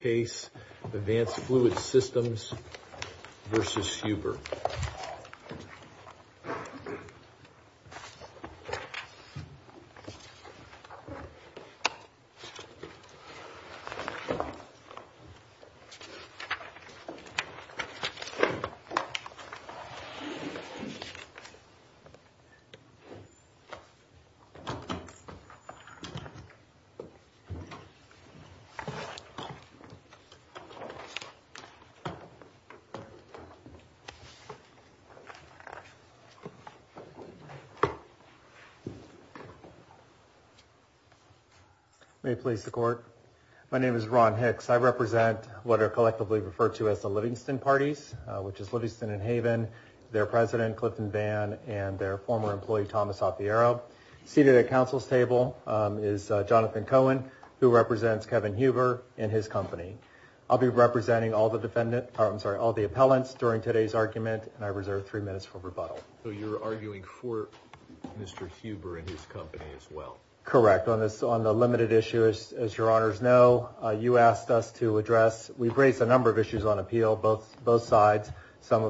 case, Advanced Fluid Systems v. Huber. May it please the court. My name is Ron Hicks. I represent what are collectively referred to as the Livingston Parties, which is Livingston and Haven, their president, Clifton Vann, and their former employee, Thomas Apiero. Seated at counsel's table is Jonathan Cohen, who represents Kevin Huber and his company. I'll be representing all the defendants, I'm sorry, all the appellants during today's argument, and I reserve three minutes for rebuttal. So you're arguing for Mr. Huber and his company as well? Correct. On the limited issue, as your honors know, you asked us to address, we've raised a number of issues on appeal, both sides, some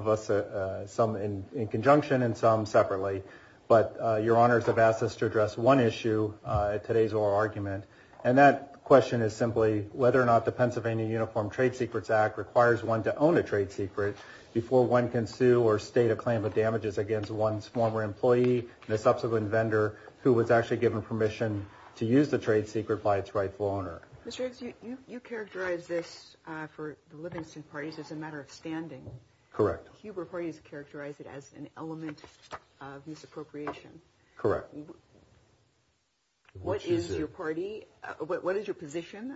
in conjunction and some separately. But your honors have asked us to address one issue at today's oral argument, and that question is simply whether or not the Pennsylvania Uniform Trade Secrets Act requires one to own a trade secret before one can sue or state a claim of damages against one's former employee and a subsequent vendor who was actually given permission to use the trade secret by its rightful owner. Mr. Hicks, you characterize this for the Livingston Parties as a matter of standing. Correct. Huber Parties characterize it as an element of misappropriation. Correct. What is your party, what is your position,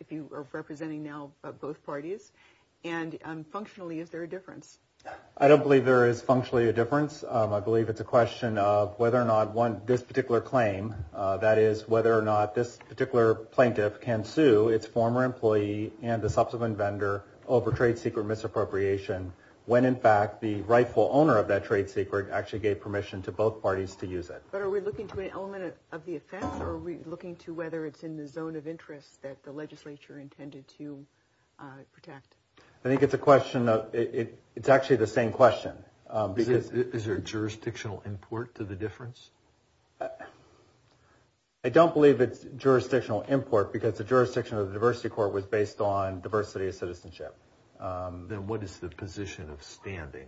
if you are representing now both parties, and functionally, is there a difference? I don't believe there is functionally a difference. I believe it's a question of whether or not this particular claim, that is, whether or not this particular plaintiff can sue its former employee and the subsequent vendor over trade secret misappropriation when, in fact, the rightful owner of that trade secret actually gave permission to both parties to use it. But are we looking to an element of the offense, or are we looking to whether it's in the zone of interest that the legislature intended to protect? I think it's a question of, it's actually the same question. Is there jurisdictional import to the difference? I don't believe it's jurisdictional import because the jurisdiction of the Diversity Court was based on diversity of citizenship. Then what is the position of standing?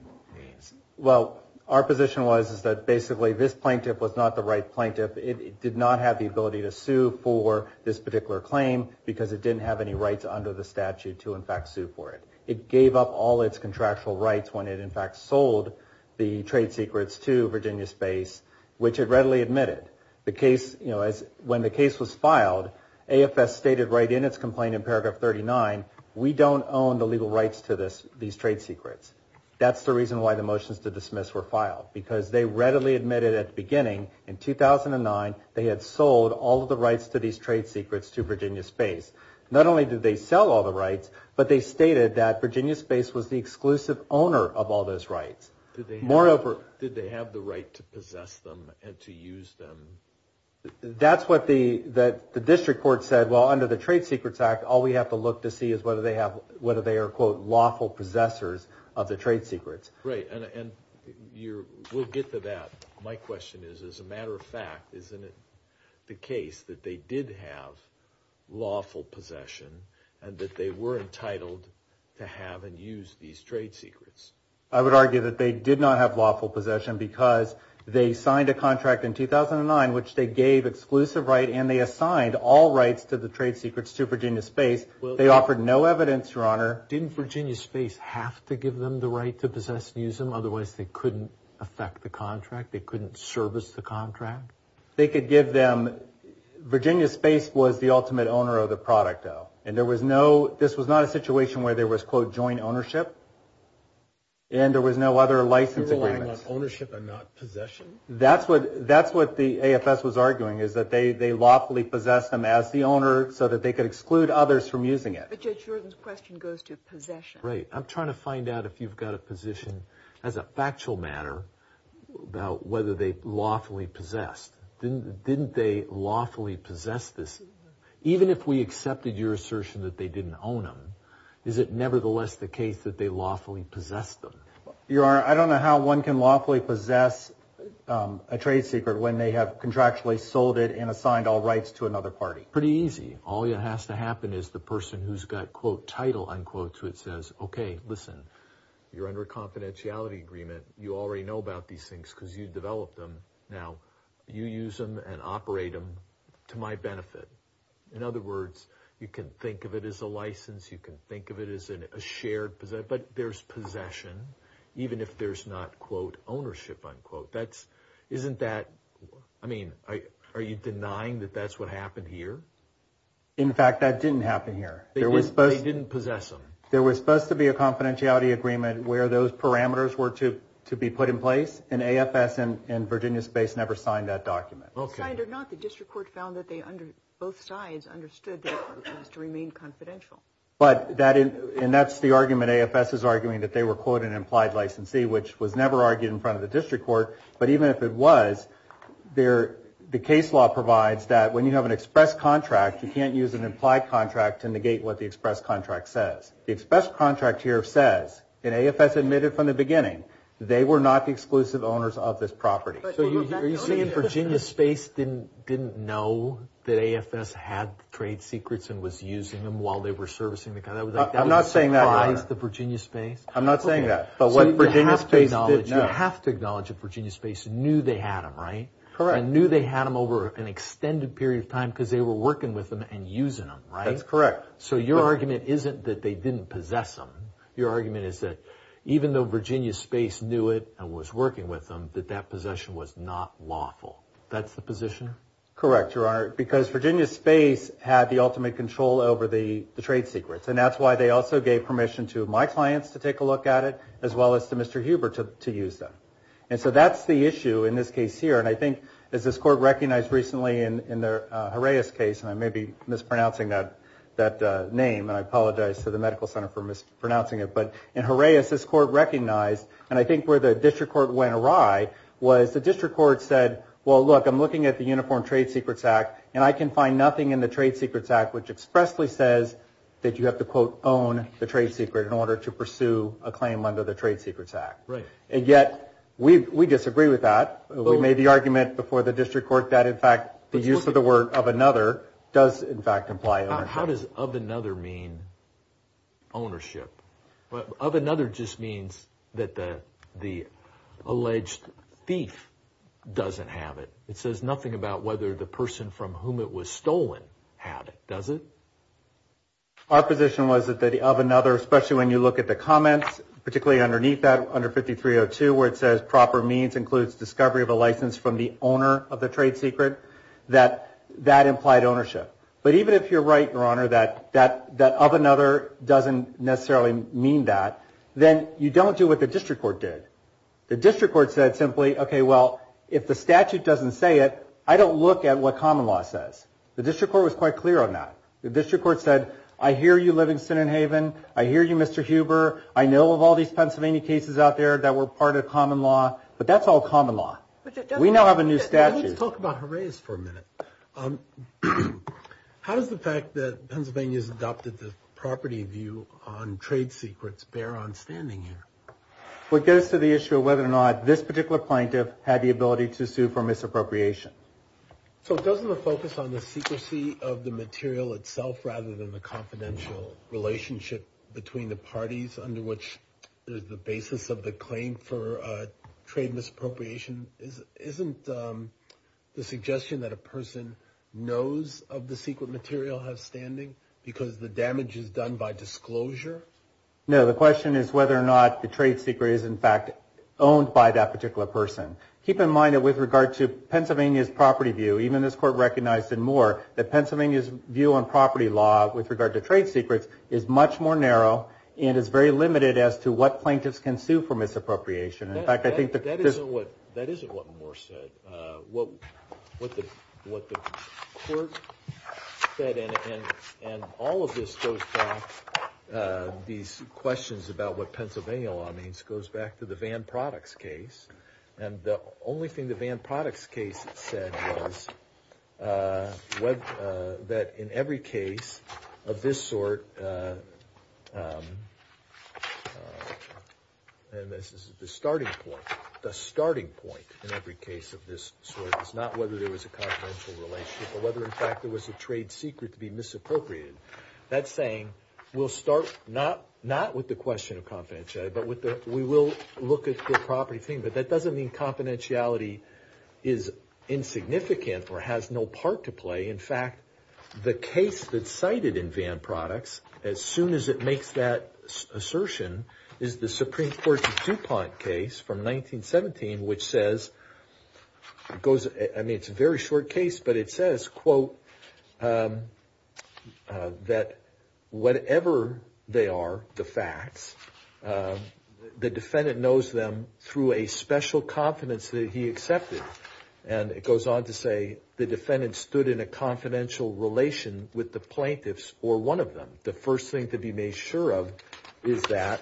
Well, our position was that basically this plaintiff was not the right plaintiff. It did not have the ability to sue for this particular claim because it didn't have any rights under the statute to, in fact, sue for it. It gave up all its contractual rights when it, in fact, sold the trade secrets to Virginia Space, which it readily admitted. The case, you know, when the case was filed, AFS stated right in its complaint in paragraph 39, we don't own the legal rights to these trade secrets. That's the reason why the motions to dismiss were filed, because they readily admitted at the beginning in 2009 they had sold all of the rights to these trade secrets to Virginia Space. Not only did they sell all the rights, but they stated that Virginia Space was the exclusive owner of all those rights. Moreover, did they have the right to possess them and to use them? That's what the district court said. Well, under the Trade Secrets Act, all we have to look to see is whether they are, quote, lawful possessors of the trade secrets. Right. And we'll get to that. My question is, as a matter of fact, isn't it the case that they did have lawful possession and that they were entitled to have and use these trade secrets? I would argue that they did not have lawful possession because they signed a contract in 2009 which they gave exclusive right and they assigned all rights to the trade secrets to Virginia Space. They offered no evidence, Your Honor. Didn't Virginia Space have to give them the right to possess and use them? Otherwise, they couldn't affect the contract. They couldn't service the contract. They could give them, Virginia Space was the ultimate owner of the product, though. And there was no, this was not a situation where there was, quote, joint ownership. And there was no other license agreement. They were relying on ownership and not possession. That's what the AFS was arguing, is that they lawfully possessed them as the owner so that they could exclude others from using it. But Judge Jordan's question goes to possession. Right. I'm trying to find out if you've got a position, as a factual matter, about whether they lawfully possessed. Didn't they lawfully possess this? Even if we accepted your assertion that they didn't own them, is it nevertheless the case that they lawfully possessed them? Your Honor, I don't know how one can lawfully possess a trade secret when they have contractually sold it and assigned all rights to another party. Pretty easy. All that has to happen is the person who's got, quote, title, unquote, to it says, okay, listen, you're under a confidentiality agreement. You already know about these things because you developed them. Now, you use them and operate them to my benefit. In other words, you can think of it as a license. You can think of it as a shared possession. But there's possession, even if there's not, quote, ownership, unquote. That's, isn't that, I mean, are you denying that that's what happened here? In fact, that didn't happen here. They didn't possess them. There was supposed to be a confidentiality agreement where those parameters were to be put in place, and AFS and Virginia Space never signed that document. Okay. Signed or not, the district court found that both sides understood that it was to remain confidential. But that, and that's the argument AFS is arguing, that they were, quote, an implied licensee, which was never argued in front of the district court. But even if it was, the case law provides that when you have an express contract, you can't use an implied contract to negate what the express contract says. The express contract here says, and AFS admitted from the beginning, they were not the exclusive owners of this property. So you're saying Virginia Space didn't know that AFS had trade secrets and was using them while they were servicing the guy? That was like, that was a surprise to Virginia Space? I'm not saying that, but what Virginia Space did know. You have to acknowledge that Virginia Space knew they had them, right? Correct. And knew they had them over an extended period of time because they were working with them and using them, right? That's correct. So your argument isn't that they didn't possess them. Your argument is that even though Virginia Space knew it and was working with them, that that possession was not lawful. That's the position? Correct, Your Honor. Because Virginia Space had the ultimate control over the trade secrets. And that's why they also gave permission to my clients to take a look at it, as well as to Mr. Huber to use them. And so that's the issue in this case here. And I think, as this court recognized recently in the Harais case, and I may be mispronouncing that name, and I apologize to the medical center for mispronouncing it. But in Harais, this court recognized, and I think where the district court went awry, was the district court said, well, look, I'm looking at the Uniform Trade Secrets Act, and I can find nothing in the Trade Secrets Act which expressly says that you have to, quote, own the trade secret in order to pursue a claim under the Trade Secrets Act. Right. And yet, we disagree with that. We made the argument before the district court that, in fact, the use of the word of another does, in fact, imply ownership. How does of another mean ownership? Well, of another just means that the alleged thief doesn't have it. It says nothing about whether the person from whom it was stolen had it, does it? Our position was that the of another, especially when you look at the comments, particularly underneath that, under 5302, where it says proper means includes discovery of a license from the owner of the trade secret, that that implied ownership. But even if you're right, Your Honor, that of another doesn't necessarily mean that, then you don't do what the district court did. The district court said simply, okay, well, if the statute doesn't say it, I don't look at what common law says. The district court was quite clear on that. The district court said, I hear you living in Sydenhaven. I hear you, Mr. Huber. I know of all these Pennsylvania cases out there that were part of common law, but that's all common law. We now have a new statute. Let's talk about Jerez for a minute. How does the fact that Pennsylvania's adopted the property view on trade secrets bear on standing here? What goes to the issue of whether or not this particular plaintiff had the ability to sue for misappropriation? So, doesn't the focus on the secrecy of the material itself, rather than the confidential relationship between the parties under which there's the basis of the claim for trade misappropriation, isn't the suggestion that a person knows of the secret material has standing because the damage is done by disclosure? No, the question is whether or not the trade secret is in fact owned by that particular person. Keep in mind that with regard to Pennsylvania's property view, even this court recognized in Moore, that Pennsylvania's view on property law with regard to trade secrets is much more narrow and is very limited as to what plaintiffs can sue for misappropriation. In fact, I think that this... these questions about what Pennsylvania law means goes back to the Van Products case. And the only thing the Van Products case said was that in every case of this sort, and this is the starting point, the starting point in every case of this sort is not whether there was a confidential relationship, but whether in fact there was a trade secret to be misappropriated. That's saying, we'll start not with the question of confidentiality, but we will look at the property claim. But that doesn't mean confidentiality is insignificant or has no part to play. In fact, the case that's cited in Van Products, as soon as it makes that assertion, is the Supreme Court's DuPont case from 1917, which says, it's a very short case, but it says, quote, that whatever they are, the facts, the defendant knows them through a special confidence that he accepted. And it goes on to say, the defendant stood in a confidential relation with the plaintiffs or one of them. The first thing to be made sure of is that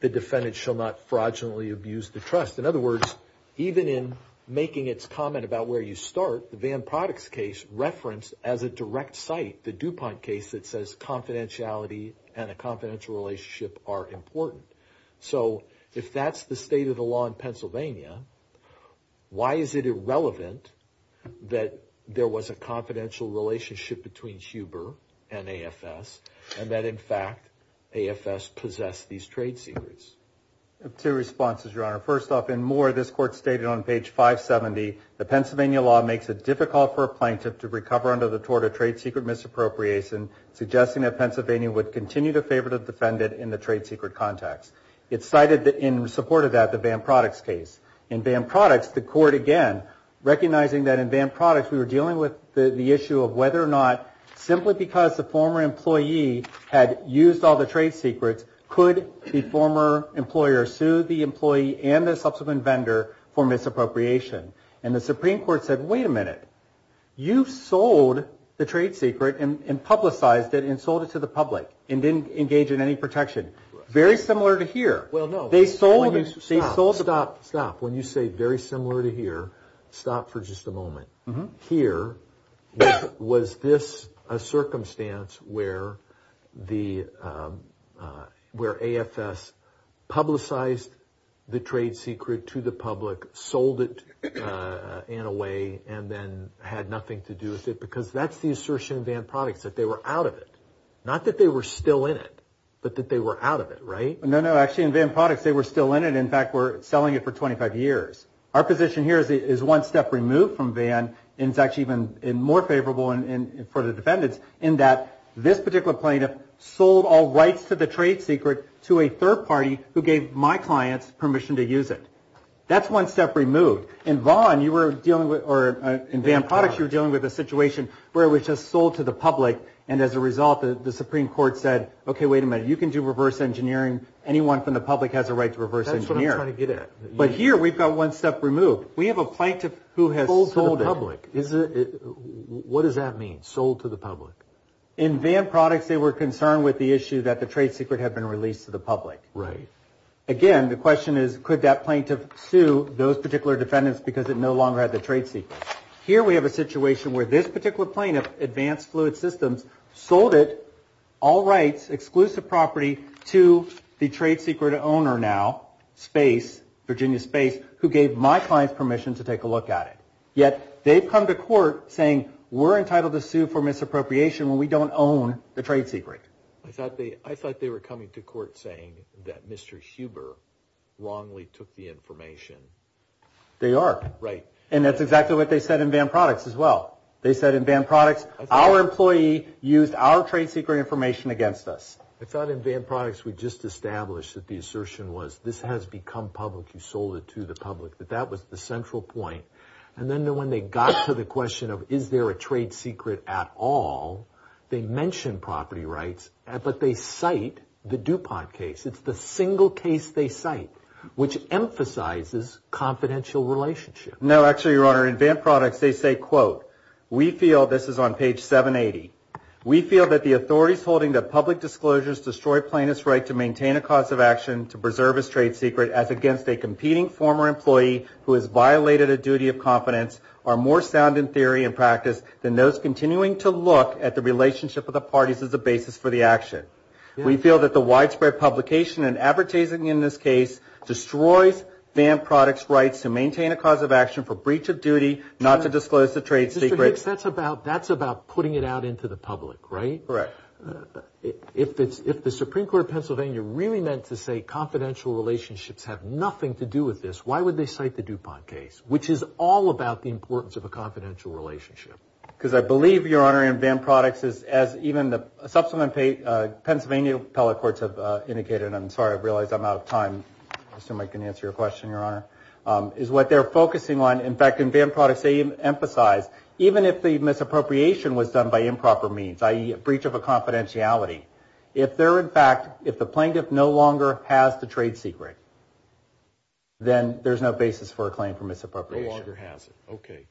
the defendant shall not fraudulently abuse the trust. In other words, even in making its comment about where you start, the Van Products case referenced as a direct site, the DuPont case that says, confidentiality and a confidential relationship are important. So, if that's the state of the law in Pennsylvania, why is it irrelevant that there was a confidential relationship between Huber and AFS and that, in fact, AFS possessed these trade secrets? Two responses, Your Honor. First off, in Moore, this court stated on page 570, the Pennsylvania law makes it difficult for a plaintiff to recover under the tort of trade secret misappropriation, suggesting that Pennsylvania would continue to favor the defendant in the trade secret context. It cited, in support of that, the Van Products case. In Van Products, the court, again, recognizing that in Van Products, we were dealing with the issue of whether or not, simply because the former employee had used all the trade secrets, could the former employer sue the employee and the subsequent vendor for misappropriation? And the Supreme Court said, wait a minute, you sold the trade secret and publicized it and sold it to the public and didn't engage in any protection. Very similar to here. Well, no. They sold it. Stop, stop, stop. When you say very similar to here, stop for just a moment. Here, was this a circumstance where the, where AFS publicized the trade secret to the public, sold it in a way, and then had nothing to do with it? Because that's the assertion in Van Products, that they were out of it. Not that they were still in it, but that they were out of it, right? No, no. Actually, in Van Products, they were still in it. In fact, were selling it for 25 years. Our position here is one step removed from Van, and it's actually even more favorable for the defendants, in that this particular plaintiff sold all rights to the trade secret to a third party who gave my clients permission to use it. That's one step removed. In Van, you were dealing with, or in Van Products, you were dealing with a situation where it was just sold to the public, and as a result, the Supreme Court said, okay, wait a minute, you can do reverse engineering. Anyone from the public has a right to reverse engineer. That's what I'm trying to get at. But here, we've got one step removed. We have a plaintiff who has sold it. Sold to the public. Is it, what does that mean, sold to the public? In Van Products, they were concerned with the issue that the trade secret had been released to the public. Right. Again, the question is, could that plaintiff sue those particular defendants because it no longer had the trade secret? Here, we have a situation where this particular plaintiff, Advanced Fluid Systems, sold it, all rights, exclusive property, to the trade secret owner now, space, Virginia Space, who gave my clients permission to take a look at it. Yet, they've come to court saying, we're entitled to sue for misappropriation when we don't own the trade secret. I thought they were coming to court saying that Mr. Huber wrongly took the information. They are. Right. And that's exactly what they said in Van Products as well. They said in Van Products, our employee used our trade secret information against us. I thought in Van Products, we just established that the assertion was, this has become public, you sold it to the public. But that was the central point. And then, when they got to the question of, is there a trade secret at all, they mentioned property rights, but they cite the DuPont case. It's the single case they cite, which emphasizes confidential relationship. No, actually, Your Honor, in Van Products, they say, quote, we feel, this is on page 780, we feel that the authorities holding the public disclosures destroy plaintiff's right to maintain a cause of action to preserve his trade secret as against a competing former employee who has violated a duty of confidence are more sound in theory and practice than those continuing to look at the relationship of the parties as a basis for the action. We feel that the widespread publication and advertising in this case destroys Van Products' rights to maintain a cause of action for breach of duty, not to disclose the trade secret. Mr. Hicks, that's about putting it out into the public, right? Correct. If the Supreme Court of Pennsylvania really meant to say confidential relationships have nothing to do with this, why would they cite the DuPont case, which is all about the importance of a confidential relationship? Because I believe, Your Honor, in Van Products, as even the subsequent Pennsylvania appellate courts have indicated, and I'm sorry, I realize I'm out of time. I assume I can answer your question, Your Honor, is what they're focusing on. In fact, in Van Products, they emphasize, even if the misappropriation was done by improper means, i.e. a breach of a confidentiality, if they're, in fact, if the plaintiff no longer has the trade secret, then there's no basis for a claim for misappropriation. No longer has it. Okay.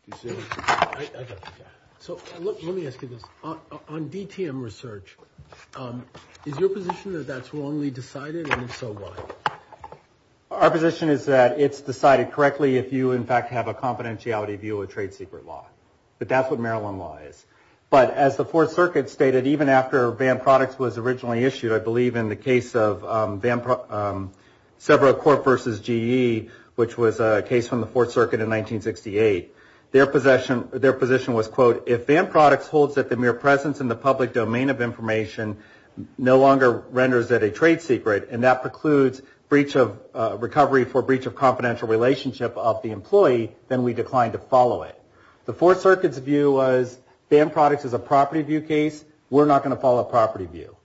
So, let me ask you this. On DTM research, is your position that that's wrongly decided, and if so, why? Our position is that it's decided correctly if you, in fact, have a confidentiality view of trade secret law. But that's what Maryland law is. But as the Fourth Circuit stated, even after Van Products was originally issued, I believe in the case of several court versus GE, which was a case from the Fourth Circuit in 1968, their position was, quote, if Van Products holds that the mere presence in the public domain of information no longer renders it a trade secret, and that precludes recovery for breach of confidential relationship of the employee, then we decline to follow it. The Fourth Circuit's view was Van Products is a property view case. We're not going to follow a property view.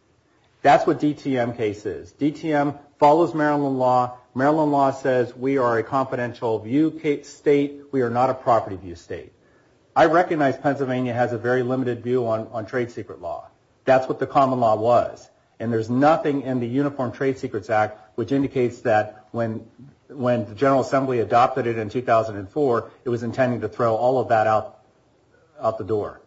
That's what DTM case is. DTM follows Maryland law. Maryland law says we are a confidential view state. We are not a property view state. I recognize Pennsylvania has a very limited view on trade secret law. That's what the common law was. And there's nothing in the Uniform Trade Secrets Act which indicates that when the General Assembly adopted it in 2004, it was intending to throw all of that out the door.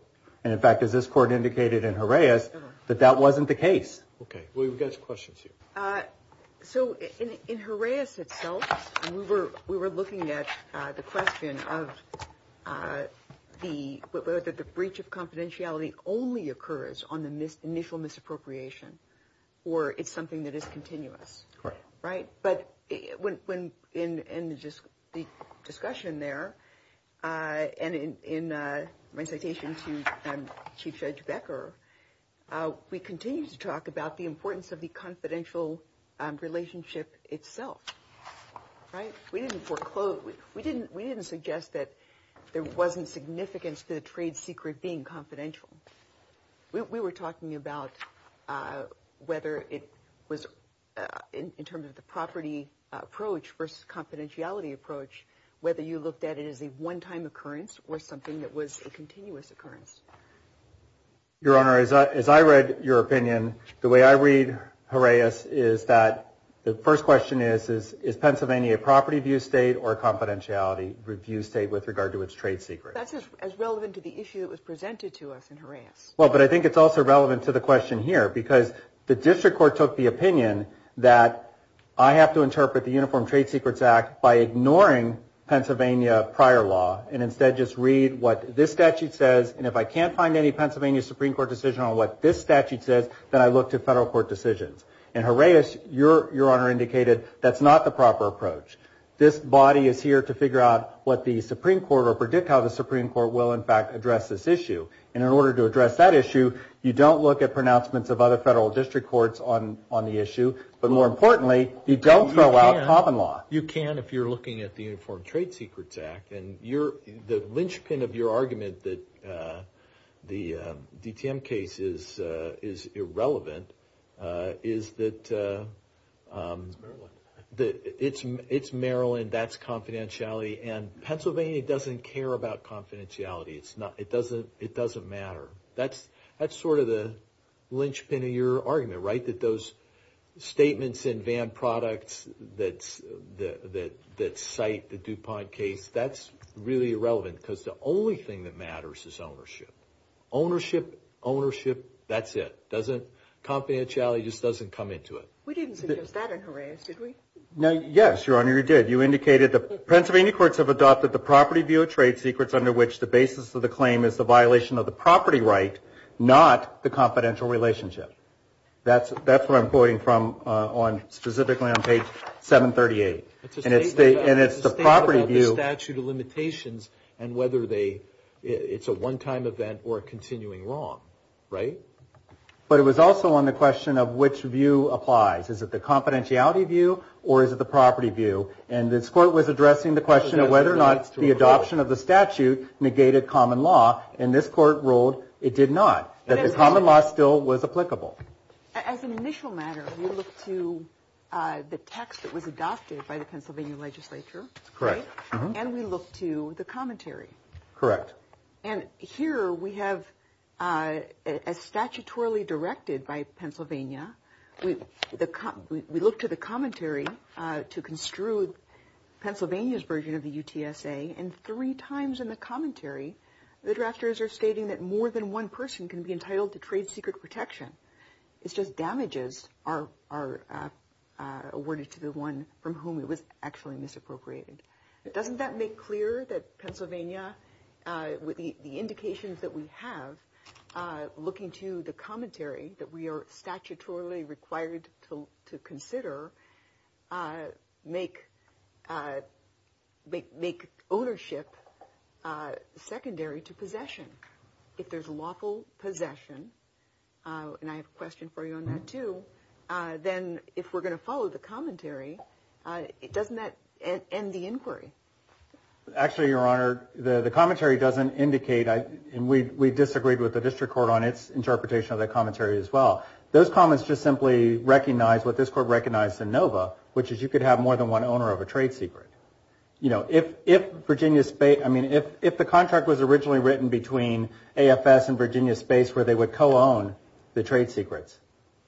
And, in fact, as this court indicated in Horaeus, that that wasn't the case. Okay. We've got some questions here. So, in Horaeus itself, we were looking at the question of whether the breach of confidentiality only occurs on the initial misappropriation or it's something that is continuous, right? But in the discussion there and in my citation to Chief Judge Becker, we continue to talk about the importance of the confidential relationship itself, right? We didn't foreclose, we didn't suggest that there wasn't significance to the trade secret being confidential. We were talking about whether it was in terms of the property approach versus confidentiality approach, whether you looked at it as a one-time occurrence or something that was a continuous occurrence. Your Honor, as I read your opinion, the way I read Horaeus is that the first question is, is Pennsylvania a property-view state or a confidentiality-view state with regard to its trade secrets? That's as relevant to the issue that was presented to us in Horaeus. Well, but I think it's also relevant to the question here because the district court took the opinion that I have to interpret the Uniform Trade Secrets Act by ignoring Pennsylvania prior law and instead just read what this statute says. And if I can't find any Pennsylvania Supreme Court decision on what this statute says, then I look to federal court decisions. And Horaeus, Your Honor, indicated that's not the proper approach. This body is here to figure out what the Supreme Court or predict how the Supreme Court will, in fact, address this issue. And in order to address that issue, you don't look at pronouncements of other federal district courts on the issue. But more importantly, you don't throw out common law. You can if you're looking at the Uniform Trade Secrets Act. And the linchpin of your argument that the DTM case is irrelevant is that it's Maryland, that's confidentiality, and Pennsylvania doesn't care about confidentiality. It doesn't matter. That's sort of the linchpin of your argument, right, that those statements in Vann Products that cite the DuPont case, that's really irrelevant because the only thing that matters is ownership. Ownership, ownership, that's it, doesn't, confidentiality just doesn't come into it. We didn't suggest that in Horaeus, did we? No, yes, Your Honor, you did. You indicated the Pennsylvania courts have adopted the property view of trade secrets under which the basis of the claim is the violation of the property right, not the confidential relationship. That's where I'm quoting from on, specifically on page 738. And it's the property view. Statute of limitations and whether they, it's a one-time event or continuing wrong, right? But it was also on the question of which view applies. Is it the confidentiality view or is it the property view? And this court was addressing the question of whether or not the adoption of the statute negated common law. And this court ruled it did not, that the common law still was applicable. As an initial matter, we look to the text that was adopted by the Pennsylvania legislature. Correct. And we look to the commentary. Correct. And here we have, as statutorily directed by Pennsylvania, we look to the commentary to construe Pennsylvania's version of the UTSA and three times in the commentary the drafters are stating that more than one person can be entitled to trade secret protection, it's just damages are awarded to the one from whom it was actually misappropriated. Doesn't that make clear that Pennsylvania, with the indications that we have looking to the commentary that we are statutorily required to consider, make ownership secondary to possession? If there's lawful possession, and I have a question for you on that too, then if we're going to follow the commentary, doesn't that end the inquiry? Actually, Your Honor, the commentary doesn't indicate, and we disagreed with the district court on its interpretation of the commentary as well. Those comments just simply recognize what this court recognized in NOVA, which is you could have more than one owner of a trade secret. You know, if Virginia, I mean, if the contract was originally written between AFS and Virginia Space where they would co-own the trade secrets,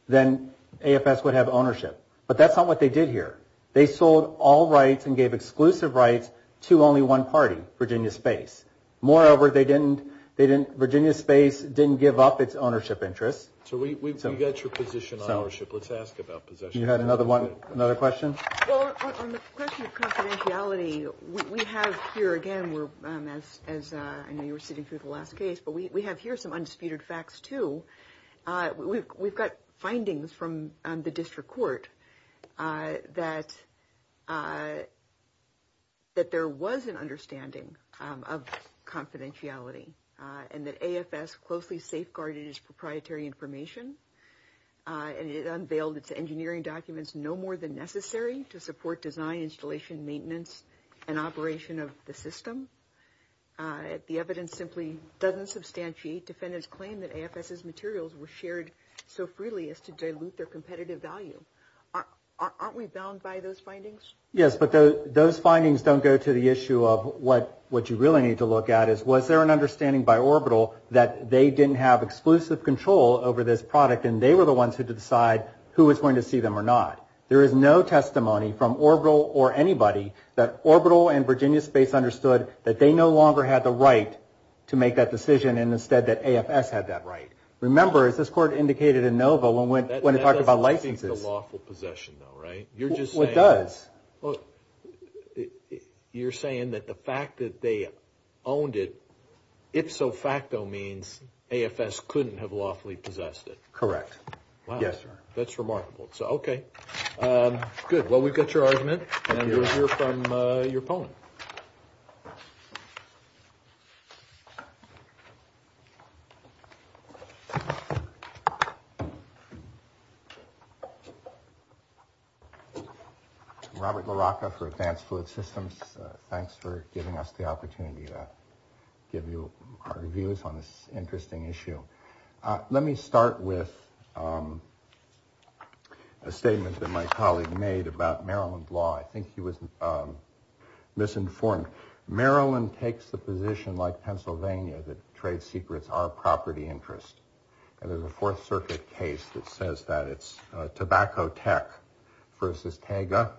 then AFS would have ownership. But that's not what they did here. They sold all rights and gave exclusive rights to only one party, Virginia Space. Moreover, they didn't, Virginia Space didn't give up its ownership interests. So we've got your position on ownership. Let's ask about possession. You had another one, another question? Well, on the question of confidentiality, we have here again, we're, as I know you were sitting through the last case, but we have here some undisputed facts too. We've got findings from the district court that there was an understanding of confidentiality and that AFS closely safeguarded its proprietary information. And it unveiled its engineering documents no more than necessary to support design, installation, maintenance, and operation of the system. The evidence simply doesn't substantiate defendants claim that AFS's materials were shared so freely as to dilute their competitive value. Aren't we bound by those findings? Yes, but those findings don't go to the issue of what you really need to look at is, was there an understanding by Orbital that they didn't have exclusive control over this product and they were the ones who had to decide who was going to see them or not? There is no testimony from Orbital or anybody that Orbital and Virginia Space understood that they no longer had the right to make that decision and instead that AFS had that right. Remember, as this court indicated in Nova when it talked about licenses. That doesn't speak to lawful possession though, right? You're just saying. It does. Well, you're saying that the fact that they owned it, if so facto means AFS couldn't have lawfully possessed it. Correct. Wow. Yes, sir. That's remarkable. So, okay, good. Well, we've got your argument and we'll hear from your opponent. Robert LaRocca for Advanced Fluid Systems. Thanks for giving us the opportunity to give you our views on this interesting issue. Let me start with a statement that my colleague made about Maryland law. I think he was misinformed. Maryland takes the position like Pennsylvania that trade secrets are property interest. And there's a Fourth Circuit case that says that it's Tobacco Tech versus Tega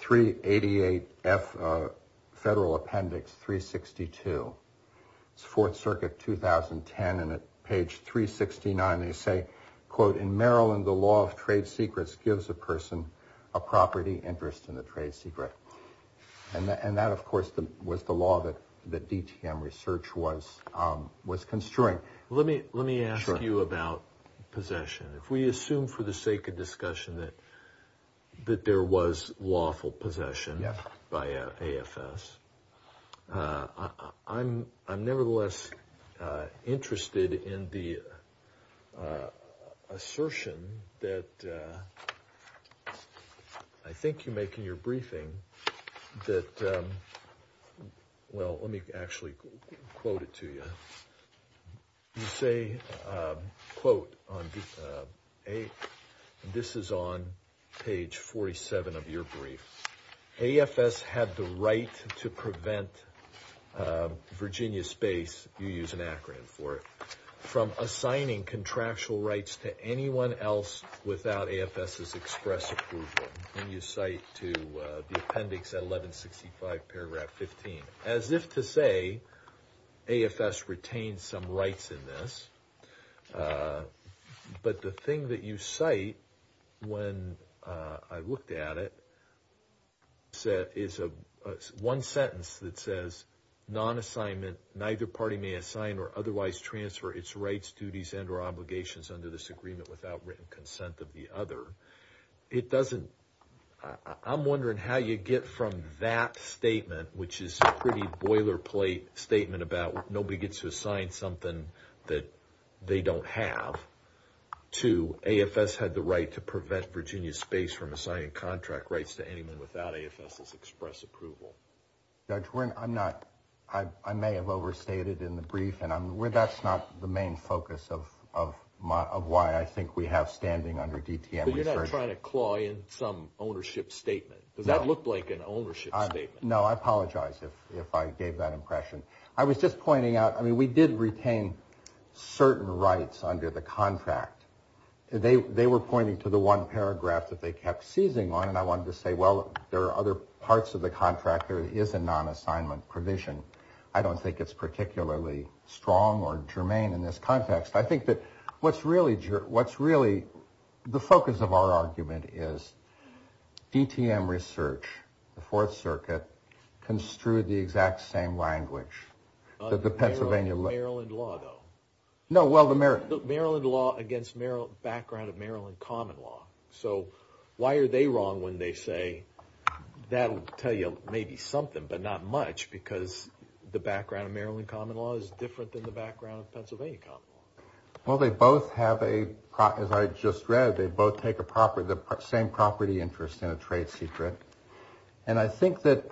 388F Federal Appendix 362. It's Fourth Circuit 2010 and at page 369 they say, quote, in Maryland the law of trade secrets gives a person a property interest in the trade secret. And that, of course, was the law that DTM research was construing. Let me ask you about possession. If we assume for the sake of discussion that there was lawful possession by AFS, I'm nevertheless interested in the assertion that I think you make in your briefing that, well, let me actually quote it to you. You say, quote, and this is on page 47 of your brief, AFS had the right to prevent Virginia Space, you use an acronym for it, from assigning contractual rights to anyone else without AFS's express approval. And you cite to the appendix at 1165 paragraph 15. As if to say AFS retained some rights in this. But the thing that you cite when I looked at it is one sentence that says, non-assignment, neither party may assign or otherwise transfer its rights, duties, and or obligations under this agreement without written consent of the other. It doesn't, I'm wondering how you get from that statement, which is a pretty boilerplate statement about nobody gets to assign something that they don't have, to AFS had the right to prevent Virginia Space from assigning contract rights to anyone without AFS's express approval. Judge, I'm not, I may have overstated in the brief, and that's not the main focus of why I think we have standing under DTM. But you're not trying to claw in some ownership statement. Does that look like an ownership statement? No, I apologize if I gave that impression. I was just pointing out, I mean, we did retain certain rights under the contract. They were pointing to the one paragraph that they kept seizing on. And I wanted to say, well, there are other parts of the contract. There is a non-assignment provision. I don't think it's particularly strong or germane in this context. I think that what's really, what's really the focus of our argument is DTM research, the Fourth Circuit, construed the exact same language that the Pennsylvania. Maryland law, though. No, well, the Maryland. Maryland law against background of Maryland common law. So, why are they wrong when they say, that'll tell you maybe something, but not much, because the background of Maryland common law is different than the background of Pennsylvania common law. Well, they both have a, as I just read, they both take a property, the same property interest in a trade secret. And I think that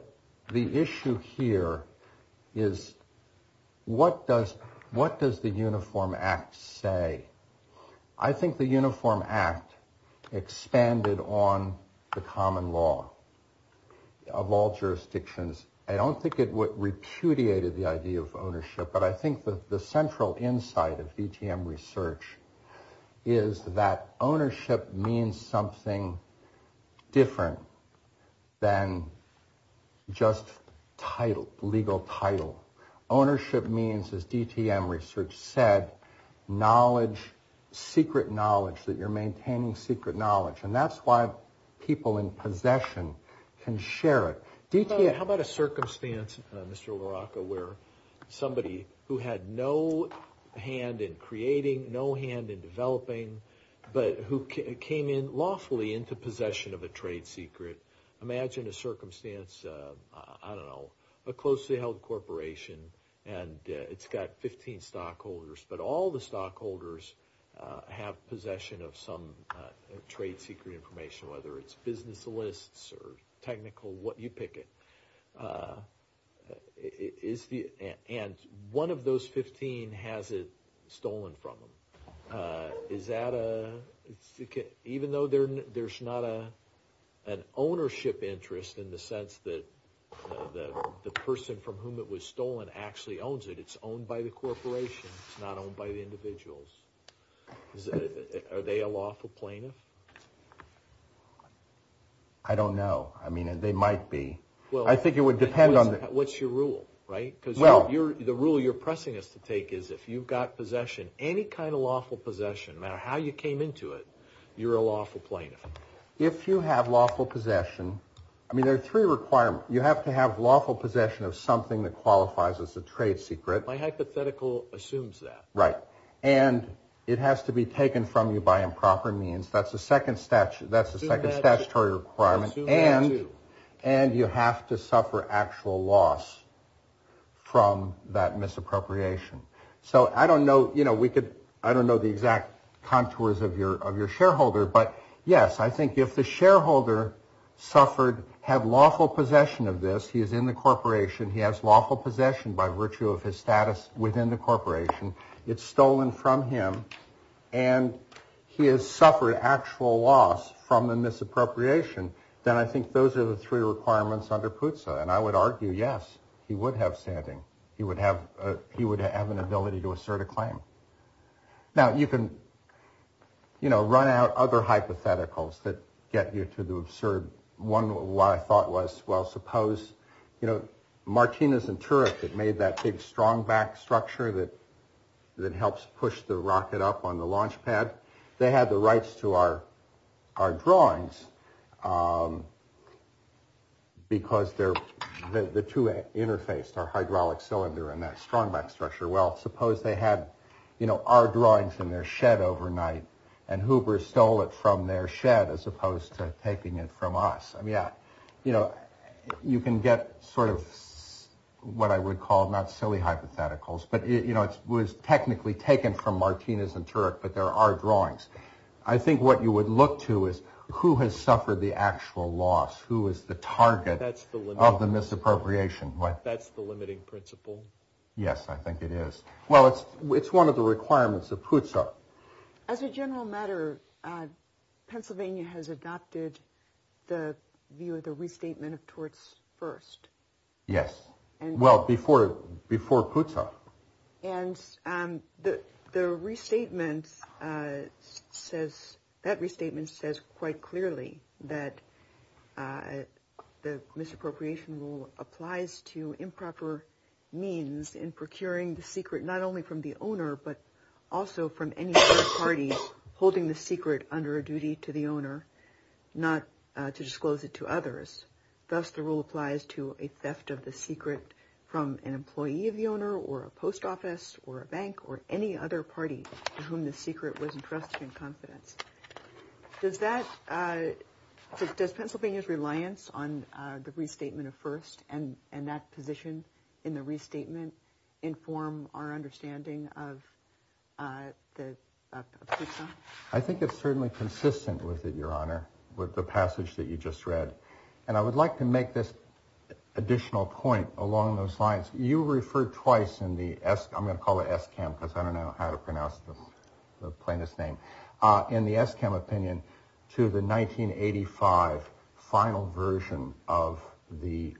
the issue here is, what does, what does the Uniform Act say? I think the Uniform Act expanded on the common law of all jurisdictions. I don't think it repudiated the idea of ownership, but I think that the central insight of DTM research is that ownership means something different than just title, legal title. Ownership means, as DTM research said, knowledge, secret knowledge, that you're maintaining secret knowledge. And that's why people in possession can share it. DTM, how about a circumstance, Mr. LaRocca, where somebody who had no hand in creating, no hand in developing, but who came in lawfully into possession of a trade secret. Imagine a circumstance, I don't know, a closely held corporation, and it's got 15 stockholders, but all the stockholders have possession of some trade secret information, whether it's business lists or technical, what you pick it. Is the, and one of those 15 has it stolen from them. Is that a, even though there's not an ownership interest in the sense that the person from whom it was stolen actually owns it, it's owned by the corporation. It's not owned by the individuals. Are they a lawful plaintiff? I don't know. I mean, they might be. I think it would depend on the. What's your rule, right? Because the rule you're pressing us to take is if you've got possession, any kind of lawful possession, no matter how you came into it, you're a lawful plaintiff. If you have lawful possession, I mean, there are three requirements. You have to have lawful possession of something that qualifies as a trade secret. My hypothetical assumes that. Right. And it has to be taken from you by improper means. That's the second statute. That's the second statutory requirement. And, and you have to suffer actual loss from that misappropriation. So I don't know, you know, we could, I don't know the exact contours of your, of your shareholder, but yes, I think if the shareholder suffered, have lawful possession of this, he is in the corporation. He has lawful possession by virtue of his status within the corporation. It's stolen from him and he has suffered actual loss from the misappropriation. Then I think those are the three requirements under PUTSA. And I would argue, yes, he would have standing. He would have, he would have an ability to assert a claim. Now you can, you know, run out other hypotheticals that get you to the absurd one. What I thought was, well, suppose, you know, Martinez and Turek that made that big strong back structure that, that helps push the rocket up on the launch pad. They had the rights to our, our drawings because they're the two interfaced, our hydraulic cylinder and that strong back structure. Well, suppose they had, you know, our drawings in their shed overnight and Hoover stole it from their shed as opposed to taking it from us. Yeah, you know, you can get sort of what I would call not silly hypotheticals, but it, you know, it was technically taken from Martinez and Turek, but there are drawings. I think what you would look to is who has suffered the actual loss? Who is the target of the misappropriation? Right? That's the limiting principle. Yes, I think it is. Well, it's, it's one of the requirements of PUTSA. As a general matter, Pennsylvania has adopted the view of the restatement of torts first. Yes. Well, before, before PUTSA. And the, the restatement says, that restatement says quite clearly that the misappropriation rule applies to improper means in procuring the secret, not only from the owner, but also from any third party holding the secret under a duty to the owner, not to disclose it to others. Thus, the rule applies to a theft of the secret from an employee of the owner or a post office or a bank or any other party to whom the secret was entrusted in confidence. Does that, does Pennsylvania's reliance on the restatement of first and that position in the restatement inform our understanding of the, of PUTSA? I think it's certainly consistent with it, your honor, with the passage that you just read. And I would like to make this additional point along those lines. You referred twice in the, I'm going to call it SCAM because I don't know how to pronounce the plaintiff's name, in the SCAM opinion to the 1985 final version of the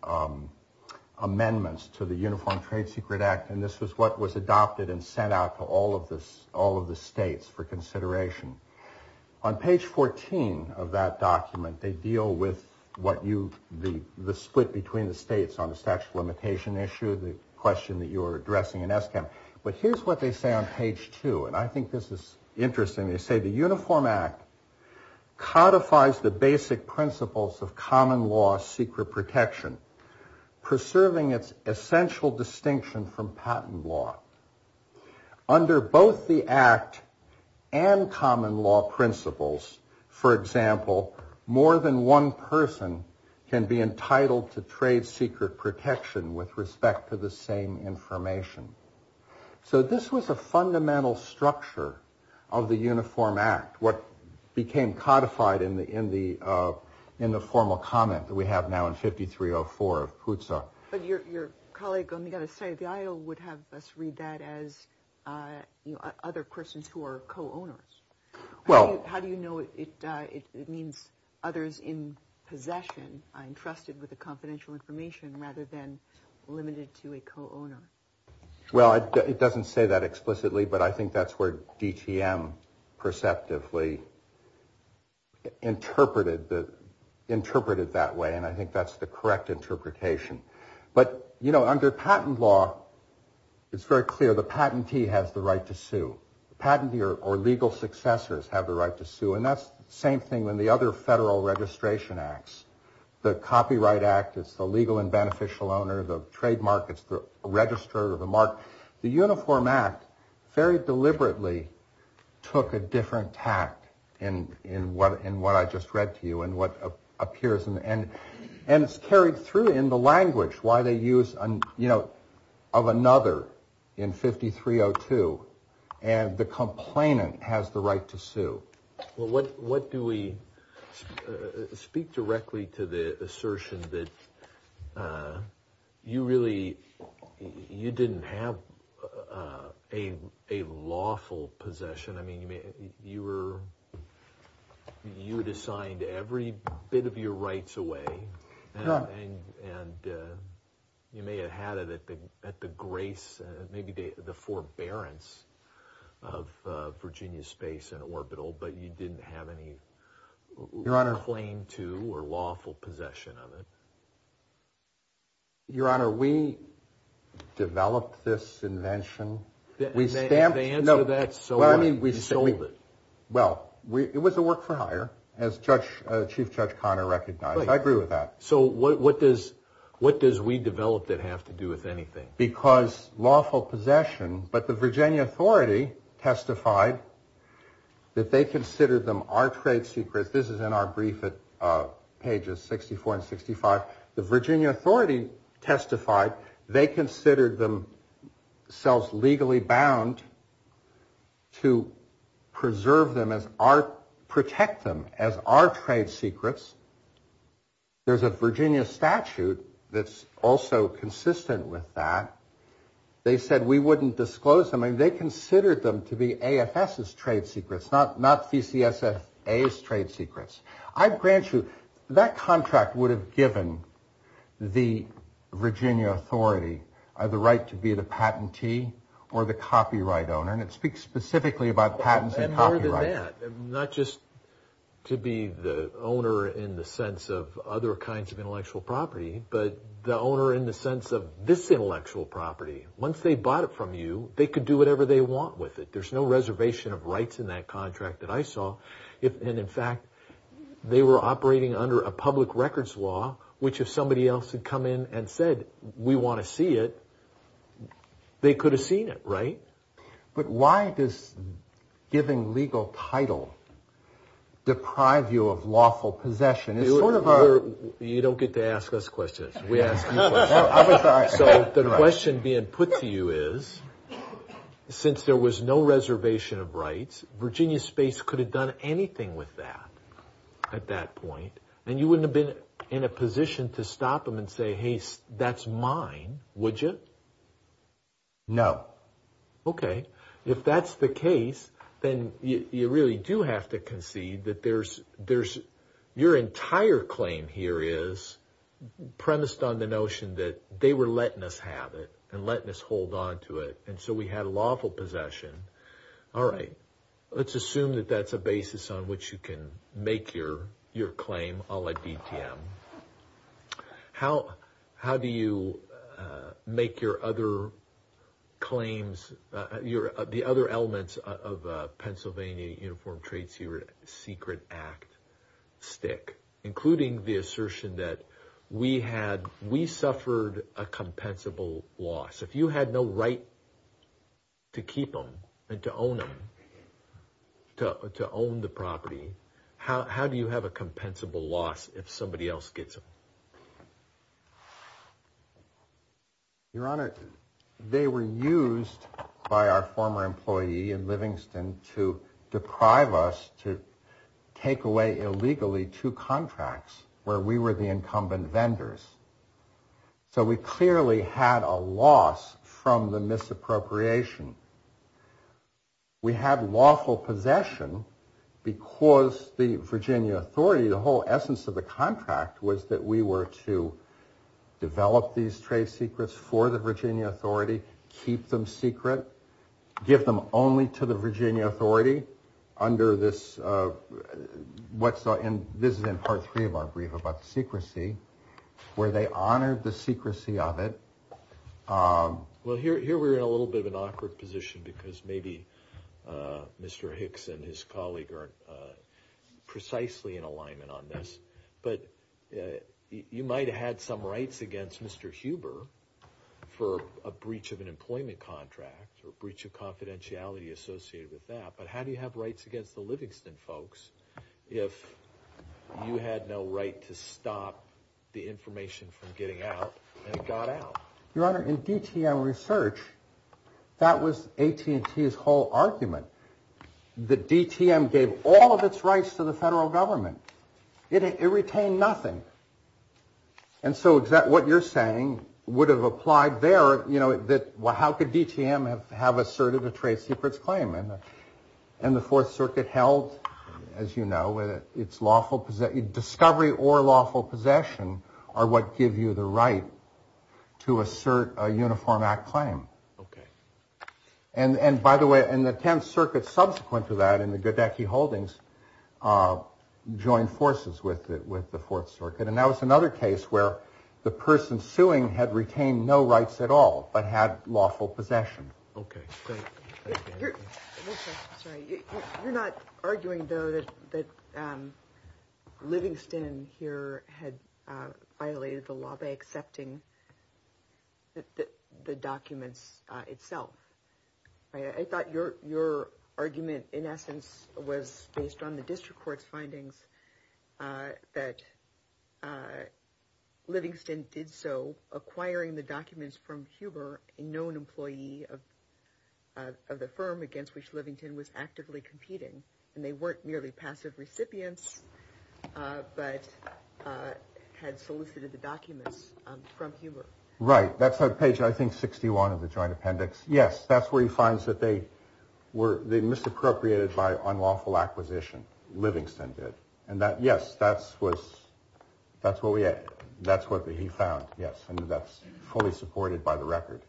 amendments to the Uniform Trade Secret Act. And this was what was adopted and sent out to all of the states for consideration. On page 14 of that document, they deal with what you, the split between the states on the statute of limitation issue, the question that you are addressing in SCAM. But here's what they say on page 2. And I think this is interesting. They say the Uniform Act codifies the basic principles of common law secret protection, preserving its essential distinction from patent law. Under both the Act and common law principles, for example, more than one person can be entitled to trade secret protection with respect to the same information. So this was a fundamental structure of the Uniform Act, what became codified in the formal comment that we have now in 5304 of PUTSA. But your colleague, I'm going to say, the IO would have us read that as other persons who are co-owners. Well, how do you know it means others in possession are entrusted Well, it doesn't say that explicitly. But I think that's where DTM perceptively interpreted that way. And I think that's the correct interpretation. But, you know, under patent law, it's very clear the patentee has the right to sue. Patentee or legal successors have the right to sue. And that's the same thing when the other federal registration acts, the Copyright Act, it's the legal and beneficial owner, the trademark, it's the register of the mark. The Uniform Act very deliberately took a different tack in what I just read to you and what appears in the end, and it's carried through in the language why they use, you know, of another in 5302, and the complainant has the right to sue. Well, what do we speak directly to the assertion that you really you didn't have a lawful possession? I mean, you were, you had assigned every bit of your rights away, and you may have had it at the grace, maybe the forbearance of Virginia Space and Orbital, but you didn't have any claim to or lawful possession of it. Your Honor, we developed this invention. We stamped the answer to that. So I mean, we sold it. Well, it was a work for hire, as Chief Judge Connor recognized. I agree with that. So what does what does we develop that have to do with anything? Because lawful possession, but the Virginia Authority testified that they considered them our trade secrets. This is in our brief at pages 64 and 65. The Virginia Authority testified they considered themselves legally bound to preserve them as our protect them as our trade secrets. There's a Virginia statute that's also consistent with that. They said we wouldn't disclose them. I mean, they considered them to be AFS's trade secrets, not not VCSF's trade secrets. I grant you that contract would have given the Virginia Authority the right to be the patentee or the copyright owner. And it speaks specifically about patents and copyrights. Not just to be the owner in the sense of other kinds of intellectual property, but the owner in the sense of this intellectual property. Once they bought it from you, they could do whatever they want with it. There's no reservation of rights in that contract that I saw. If and in fact, they were operating under a public records law, which if somebody else had come in and said, we want to see it, they could have seen it. Right. But why does giving legal title deprive you of lawful possession? It's sort of you don't get to ask us questions. We ask you. So the question being put to you is, since there was no reservation of rights, Virginia Space could have done anything with that at that point. And you wouldn't have been in a position to stop them and say, hey, that's mine. Would you? No. OK, if that's the case, then you really do have to concede that there's there's your entire claim here is premised on the notion that they were letting us have it and letting us hold on to it. And so we had a lawful possession. All right. Let's assume that that's a basis on which you can make your your claim. I'll let him. How how do you make your other claims, your the other elements of Pennsylvania Uniform Trade Secret Act stick, including the assertion that we had we suffered a compensable loss if you had no right. To keep them and to own them, to to own the property, how how do you have a compensable loss if somebody else gets it? Your Honor, they were used by our former employee in Livingston to deprive us to take away illegally two contracts where we were the incumbent vendors. So we clearly had a loss from the misappropriation. We had lawful possession because the Virginia authority, the whole essence of the contract, was that we were to develop these trade secrets for the Virginia authority, keep them secret, give them only to the Virginia authority under this. What's in this is in part three of our brief about the secrecy where they honored the secrecy of it. Well, here we're in a little bit of an awkward position because maybe Mr. Hicks and his colleague are precisely in alignment on this. But you might have had some rights against Mr. Huber for a breach of an employment contract or a breach of confidentiality associated with that. But how do you have rights against the Livingston folks if you had no right to stop the information from getting out and it got out? Your Honor, in DTM research, that was AT&T's whole argument. The DTM gave all of its rights to the federal government. It retained nothing. And so is that what you're saying would have applied there? You know that. Well, how could DTM have asserted a trade secrets claim? And the Fourth Circuit held, as you know, it's lawful because that discovery or lawful possession are what give you the right to assert a Uniform Act claim. OK. And by the way, in the 10th Circuit, subsequent to that, in the Goodecky Holdings, joined forces with it with the Fourth Circuit. And that was another case where the person suing had retained no rights at all, but had lawful possession. OK, great. You're not arguing, though, that Livingston here had violated the law by accepting the documents itself. I thought your argument, in essence, was based on the district court's findings that Livingston did so, acquiring the documents from Huber, a known employee of the firm against which Livingston was actively competing. And they weren't merely passive recipients, but had solicited the documents from Huber. Right. That's a page, I think, 61 of the joint appendix. Yes, that's where he finds that they were misappropriated by unlawful acquisition. Livingston did. And that, yes, that's what he found. Yes. And that's fully supported by the record.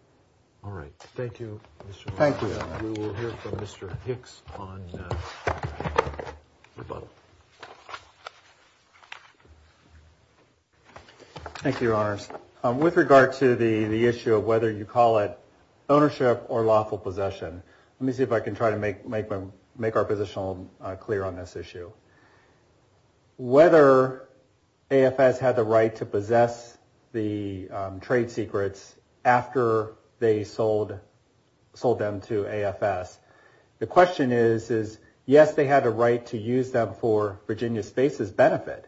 All right. Thank you. Thank you. We will hear from Mr. Hicks on. Thank you, Your Honors. With regard to the issue of whether you call it ownership or lawful possession. Let me see if I can try to make them make our position clear on this issue. Whether AFS had the right to possess the trade secrets after they sold them to AFS, the question is, is, yes, they had a right to use them for Virginia Space's benefit.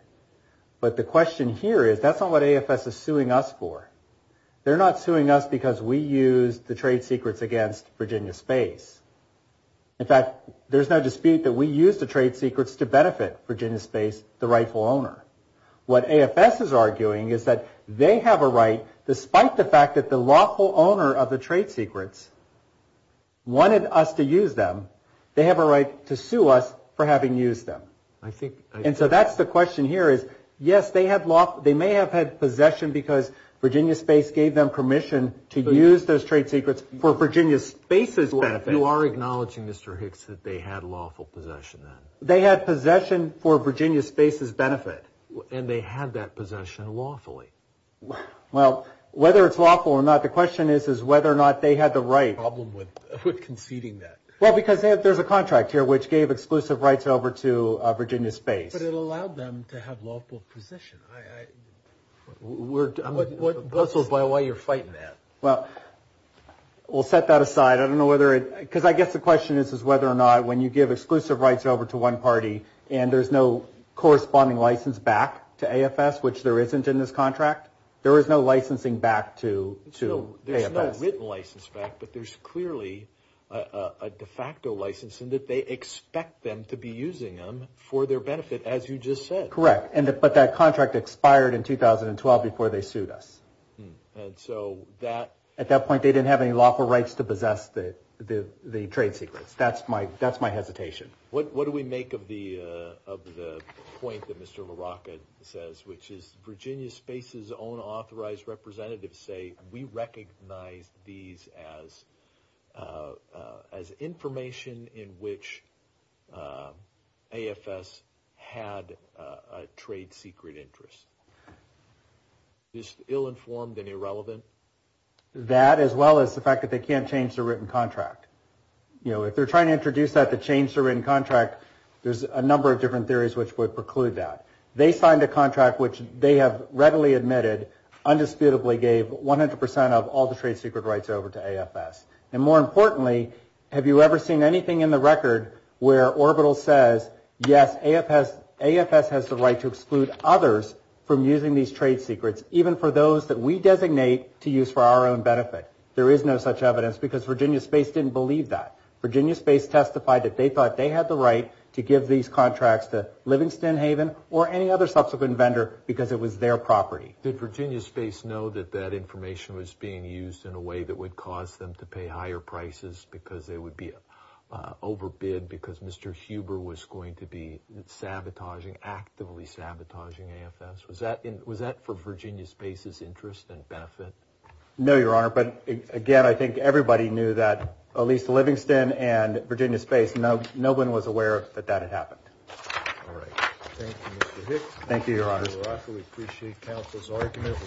But the question here is, that's not what AFS is suing us for. They're not suing us because we used the trade secrets against Virginia Space. In fact, there's no dispute that we use the trade secrets to benefit Virginia Space, the rightful owner. What AFS is arguing is that they have a right, despite the fact that the lawful owner of the trade secrets. Wanted us to use them, they have a right to sue us for having used them. I think. And so that's the question here is, yes, they have law. They may have had possession because Virginia Space gave them permission to use those trade secrets for Virginia Space's benefit. So you are acknowledging, Mr. Hicks, that they had lawful possession then? They had possession for Virginia Space's benefit. And they had that possession lawfully. Well, whether it's lawful or not, the question is, is whether or not they had the right. Problem with conceding that. Well, because there's a contract here which gave exclusive rights over to Virginia Space. But it allowed them to have lawful possession. We're puzzled by why you're fighting that. Well, we'll set that aside. I don't know whether it because I guess the question is, is whether or not when you give exclusive rights over to one party and there's no corresponding license back to AFS, which there isn't in this contract, there is no licensing back to to AFS. There's no written license back, but there's clearly a de facto license and that they expect them to be using them for their benefit, as you just said. Correct. And but that contract expired in 2012 before they sued us. And so that at that point, they didn't have any lawful rights to possess the trade secrets. That's my that's my hesitation. What do we make of the of the point that Mr. LaRocca says, which is Virginia Space's own authorized representatives say we recognize these as as information in which AFS had a trade secret interest. Is ill-informed and irrelevant that as well as the fact that they can't change the written contract, you know, if they're trying to introduce that to change the written contract, there's a number of different theories which would preclude that they signed a contract which they have readily admitted, undisputedly gave 100 percent of all the trade secret rights over to AFS. And more importantly, have you ever seen anything in the record where Orbital says, yes, AFS, AFS has the right to exclude others from using these trade secrets, even for those that we designate to use for our own benefit? There is no such evidence because Virginia Space didn't believe that Virginia Space testified that they thought they had the right to give these contracts to Livingston Haven or any other subsequent vendor because it was their property. Did Virginia Space know that that information was being used in a way that would cause them to pay higher prices because they would be overbid because Mr. Huber was going to be sabotaging, actively sabotaging AFS? Was that was that for Virginia Space's interest and benefit? No, Your Honor. But again, I think everybody knew that at least Livingston and Virginia Space. No, no one was aware that that had happened. All right. Thank you, Mr. Hicks. Thank you, Your Honor. We appreciate counsel's argument.